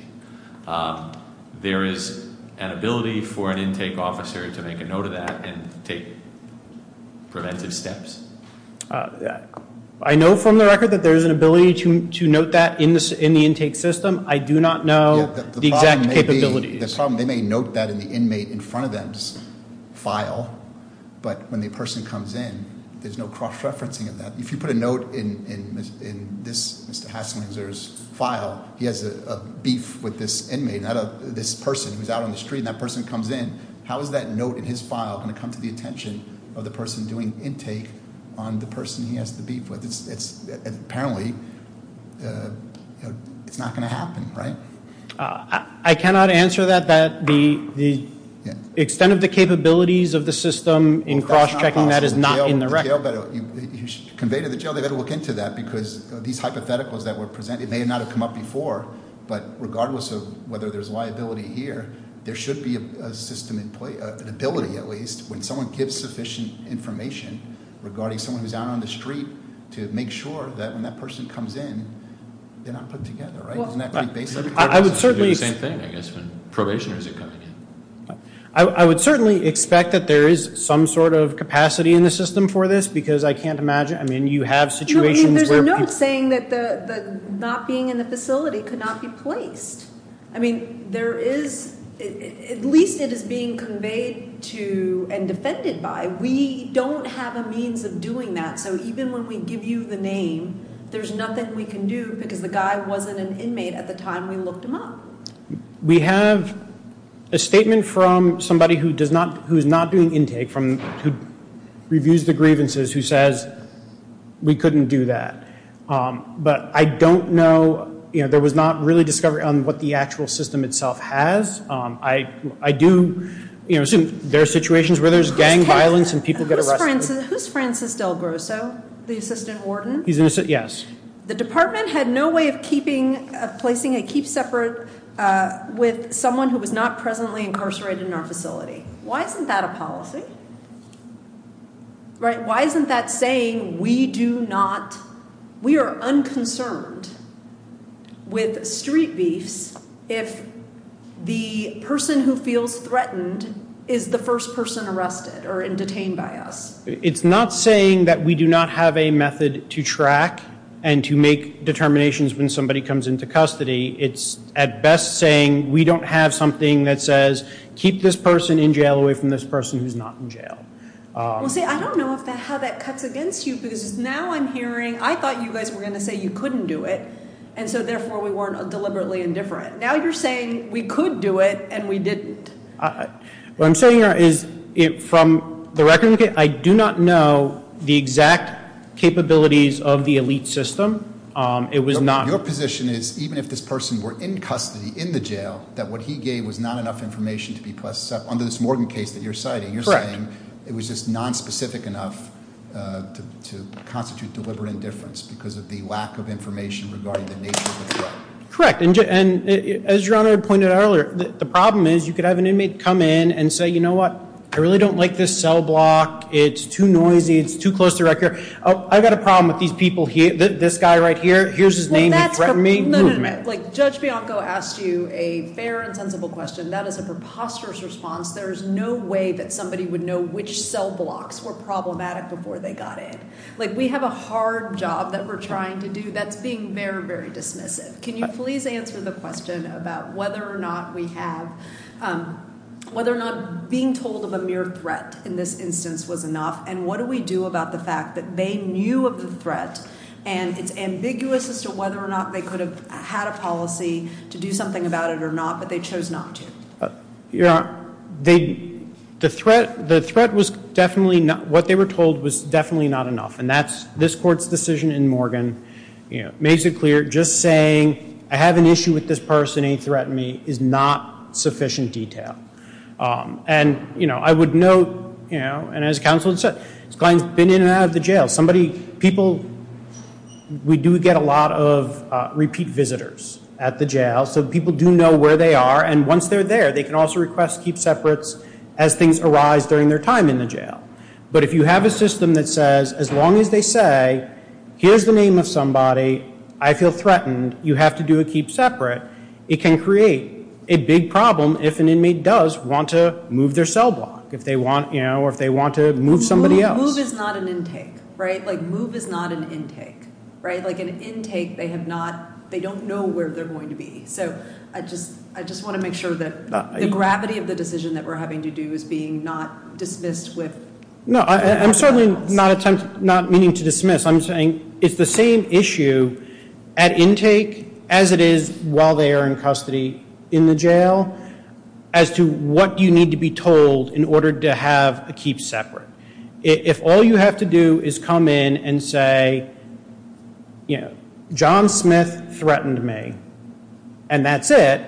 there is an ability for an intake officer to make a note of that and take preventive steps? I know from the record that there is an ability to note that in the intake system. I do not know the exact capabilities. The problem, they may note that in the inmate in front of them's file, but when the person comes in, there's no cross-referencing of that. If you put a note in this Mr. Hasslinger's file, he has a beef with this inmate, this person who's out on the street, and that person comes in, how is that note in his file going to come to the attention of the person doing intake on the person he has the beef with? Apparently it's not going to happen, right? I cannot answer that, that the extent of the capabilities of the system in cross-checking that is not in the record. Conveyed to the jail, they've got to look into that, because these hypotheticals that were presented may not have come up before, but regardless of whether there's liability here, there should be a system in place, an ability at least, when someone gives sufficient information regarding someone who's out on the street, to make sure that when that person comes in, they're not put together, right? I would certainly expect that there is some sort of capacity in the system for this, because I can't imagine, I mean you have situations where people... There's a note saying that not being in the facility could not be placed. I mean there is, at least it is being conveyed to and defended by. We don't have a means of doing that, so even when we give you the name, there's nothing we can do, because the guy wasn't an inmate at the time we looked him up. We have a statement from somebody who's not doing intake, who reviews the grievances, who says we couldn't do that. But I don't know, there was not really discovery on what the actual system itself has. I do assume there are situations where there's gang violence and people get arrested. Who's Francis Del Grosso, the assistant warden? He's an assistant, yes. The department had no way of keeping, of placing a keep separate with someone who was not presently incarcerated in our facility. Why isn't that a policy, right? Why isn't that saying we do not, we are unconcerned with street beefs if the person who feels threatened is the first person arrested or detained by us? It's not saying that we do not have a method to track and to make determinations when somebody comes into custody. It's at best saying we don't have something that says keep this person in jail away from this person who's not in jail. I don't know how that cuts against you, because now I'm hearing, I thought you guys were going to say you couldn't do it, and so therefore we weren't deliberately indifferent. Now you're saying we could do it and we didn't. What I'm saying here is from the record, I do not know the exact capabilities of the elite system. It was not- Your position is even if this person were in custody, in the jail, that what he gave was not enough information to be put under this Morgan case that you're citing. Correct. You're saying it was just nonspecific enough to constitute deliberate indifference because of the lack of information regarding the nature of the threat. Correct. As Your Honor pointed out earlier, the problem is you could have an inmate come in and say, you know what, I really don't like this cell block. It's too noisy. It's too close to record. I've got a problem with these people here, this guy right here. Here's his name. He threatened me. No, no, no. Judge Bianco asked you a fair and sensible question. That is a preposterous response. There is no way that somebody would know which cell blocks were problematic before they got in. We have a hard job that we're trying to do that's being very, very dismissive. Can you please answer the question about whether or not we have, whether or not being told of a mere threat in this instance was enough, and what do we do about the fact that they knew of the threat and it's ambiguous as to whether or not they could have had a policy to do something about it or not, but they chose not to. Your Honor, the threat was definitely not, what they were told was definitely not enough, and this Court's decision in Morgan makes it clear just saying, I have an issue with this person, he threatened me, is not sufficient detail. And, you know, I would note, you know, and as counsel said, this client's been in and out of the jail. Somebody, people, we do get a lot of repeat visitors at the jail, so people do know where they are, and once they're there, they can also request keep separates as things arise during their time in the jail. But if you have a system that says, as long as they say, here's the name of somebody, I feel threatened, you have to do a keep separate, it can create a big problem if an inmate does want to move their cell block, if they want, you know, or if they want to move somebody else. Move is not an intake, right? Like move is not an intake, right? Like an intake they have not, they don't know where they're going to be. So I just want to make sure that the gravity of the decision that we're having to do is being not dismissed with cell blocks. No, I'm certainly not meaning to dismiss. I'm saying it's the same issue at intake as it is while they are in custody in the jail as to what you need to be told in order to have a keep separate. If all you have to do is come in and say, you know, John Smith threatened me, and that's it,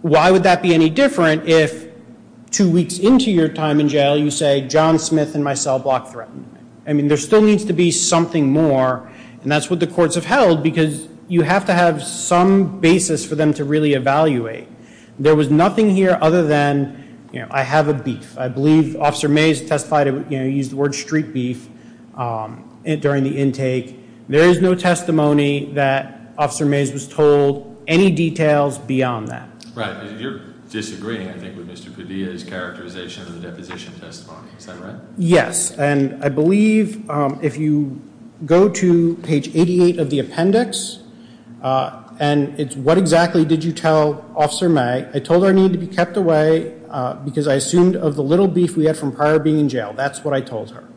why would that be any different if two weeks into your time in jail you say, John Smith and my cell block threatened me? I mean, there still needs to be something more, and that's what the courts have held because you have to have some basis for them to really evaluate. There was nothing here other than, you know, I have a beef. I believe Officer Mays testified, you know, he used the word street beef during the intake. There is no testimony that Officer Mays was told any details beyond that. Right. You're disagreeing, I think, with Mr. Padilla's characterization of the deposition testimony. Is that right? Yes, and I believe if you go to page 88 of the appendix, and it's what exactly did you tell Officer May, I told her I needed to be kept away because I assumed of the little beef we had from prior being in jail. That's what I told her.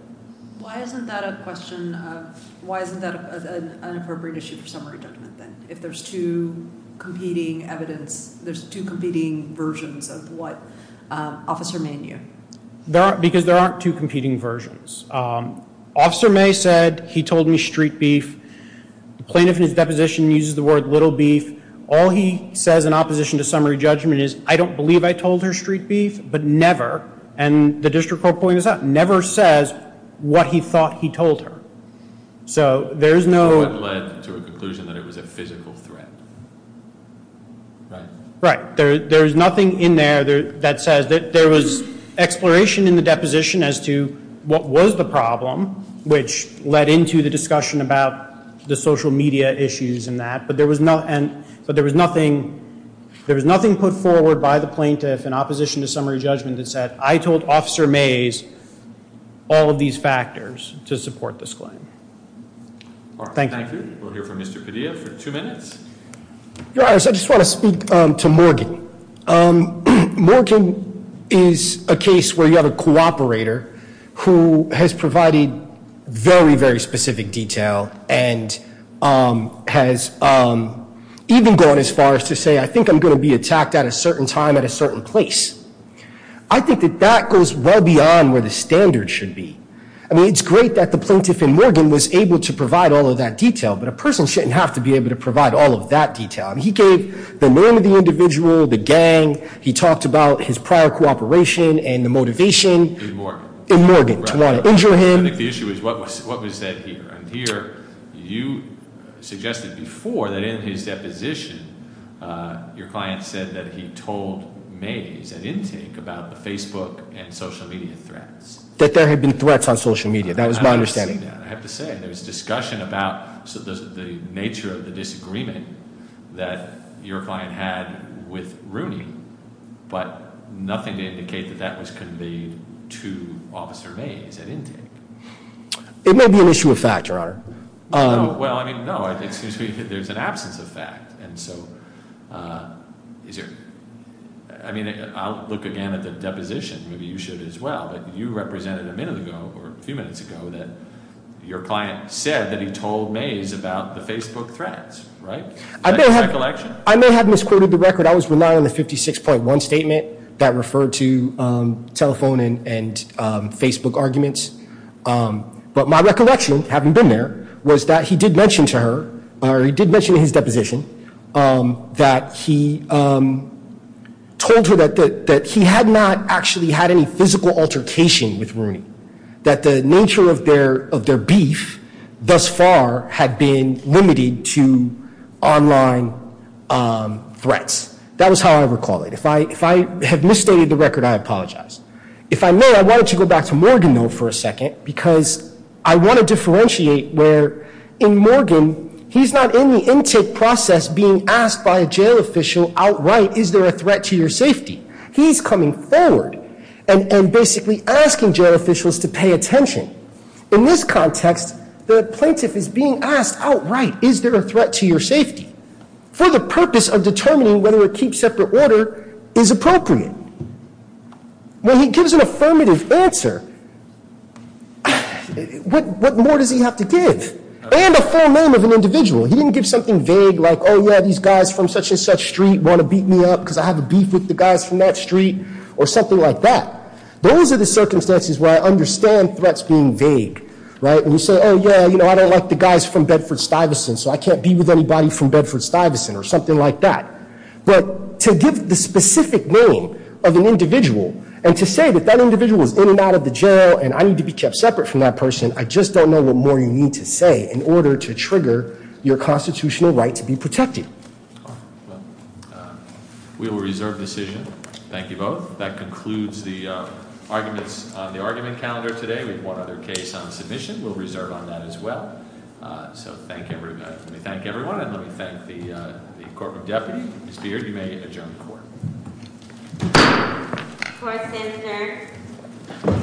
Why isn't that a question of, why isn't that an appropriate issue for summary judgment then, if there's two competing evidence, there's two competing versions of what Officer May knew? Because there aren't two competing versions. Officer May said he told me street beef. The plaintiff in his deposition uses the word little beef. All he says in opposition to summary judgment is, I don't believe I told her street beef, but never, and the district court pointed this out, never says what he thought he told her. So there is no. So it led to a conclusion that it was a physical threat, right? Right. There is nothing in there that says that there was exploration in the deposition as to what was the problem, which led into the discussion about the social media issues and that, but there was nothing put forward by the plaintiff in opposition to summary judgment that said, I told Officer Mays all of these factors to support this claim. Thank you. Thank you. We'll hear from Mr. Padilla for two minutes. Your Honor, I just want to speak to Morgan. Morgan is a case where you have a cooperator who has provided very, very specific detail and has even gone as far as to say, I think I'm going to be attacked at a certain time at a certain place. I think that that goes well beyond where the standard should be. I mean, it's great that the plaintiff in Morgan was able to provide all of that detail, but a person shouldn't have to be able to provide all of that detail. He gave the name of the individual, the gang. He talked about his prior cooperation and the motivation- In Morgan. In Morgan to want to injure him. I think the issue is what was said here. Here, you suggested before that in his deposition, your client said that he told Mays at intake about the Facebook and social media threats. That there had been threats on social media. That was my understanding. I have to say, there was discussion about the nature of the disagreement that your client had with Rooney, but nothing to indicate that that was conveyed to Officer Mays at intake. It may be an issue of fact, Your Honor. Well, I mean, no. It seems to me that there's an absence of fact. And so, I mean, I'll look again at the deposition. Maybe you should as well. But you represented a minute ago, or a few minutes ago, that your client said that he told Mays about the Facebook threats, right? Is that your recollection? I may have misquoted the record. I was relying on the 56.1 statement that referred to telephone and Facebook arguments. But my recollection, having been there, was that he did mention to her, or he did mention in his deposition, that he told her that he had not actually had any physical altercation with Rooney. That the nature of their beef, thus far, had been limited to online threats. That was how I recall it. If I have misstated the record, I apologize. If I may, I wanted to go back to Morgan, though, for a second, because I want to differentiate where, in Morgan, he's not in the intake process being asked by a jail official outright, is there a threat to your safety? He's coming forward and basically asking jail officials to pay attention. In this context, the plaintiff is being asked outright, is there a threat to your safety? For the purpose of determining whether a keep separate order is appropriate. When he gives an affirmative answer, what more does he have to give? And a full name of an individual. He didn't give something vague like, oh, yeah, these guys from such and such street want to beat me up because I have a beef with the guys from that street. Or something like that. Those are the circumstances where I understand threats being vague. Right? When you say, oh, yeah, I don't like the guys from Bedford-Stuyvesant, so I can't be with anybody from Bedford-Stuyvesant. Or something like that. But to give the specific name of an individual, and to say that that individual is in and out of the jail, and I need to be kept separate from that person. I just don't know what more you need to say in order to trigger your constitutional right to be protected. We will reserve the decision. Thank you both. That concludes the arguments on the argument calendar today. We have one other case on submission. We'll reserve on that as well. So let me thank everyone, and let me thank the corporate deputy. Mr. Deere, you may adjourn the court. Court is adjourned. Thank you.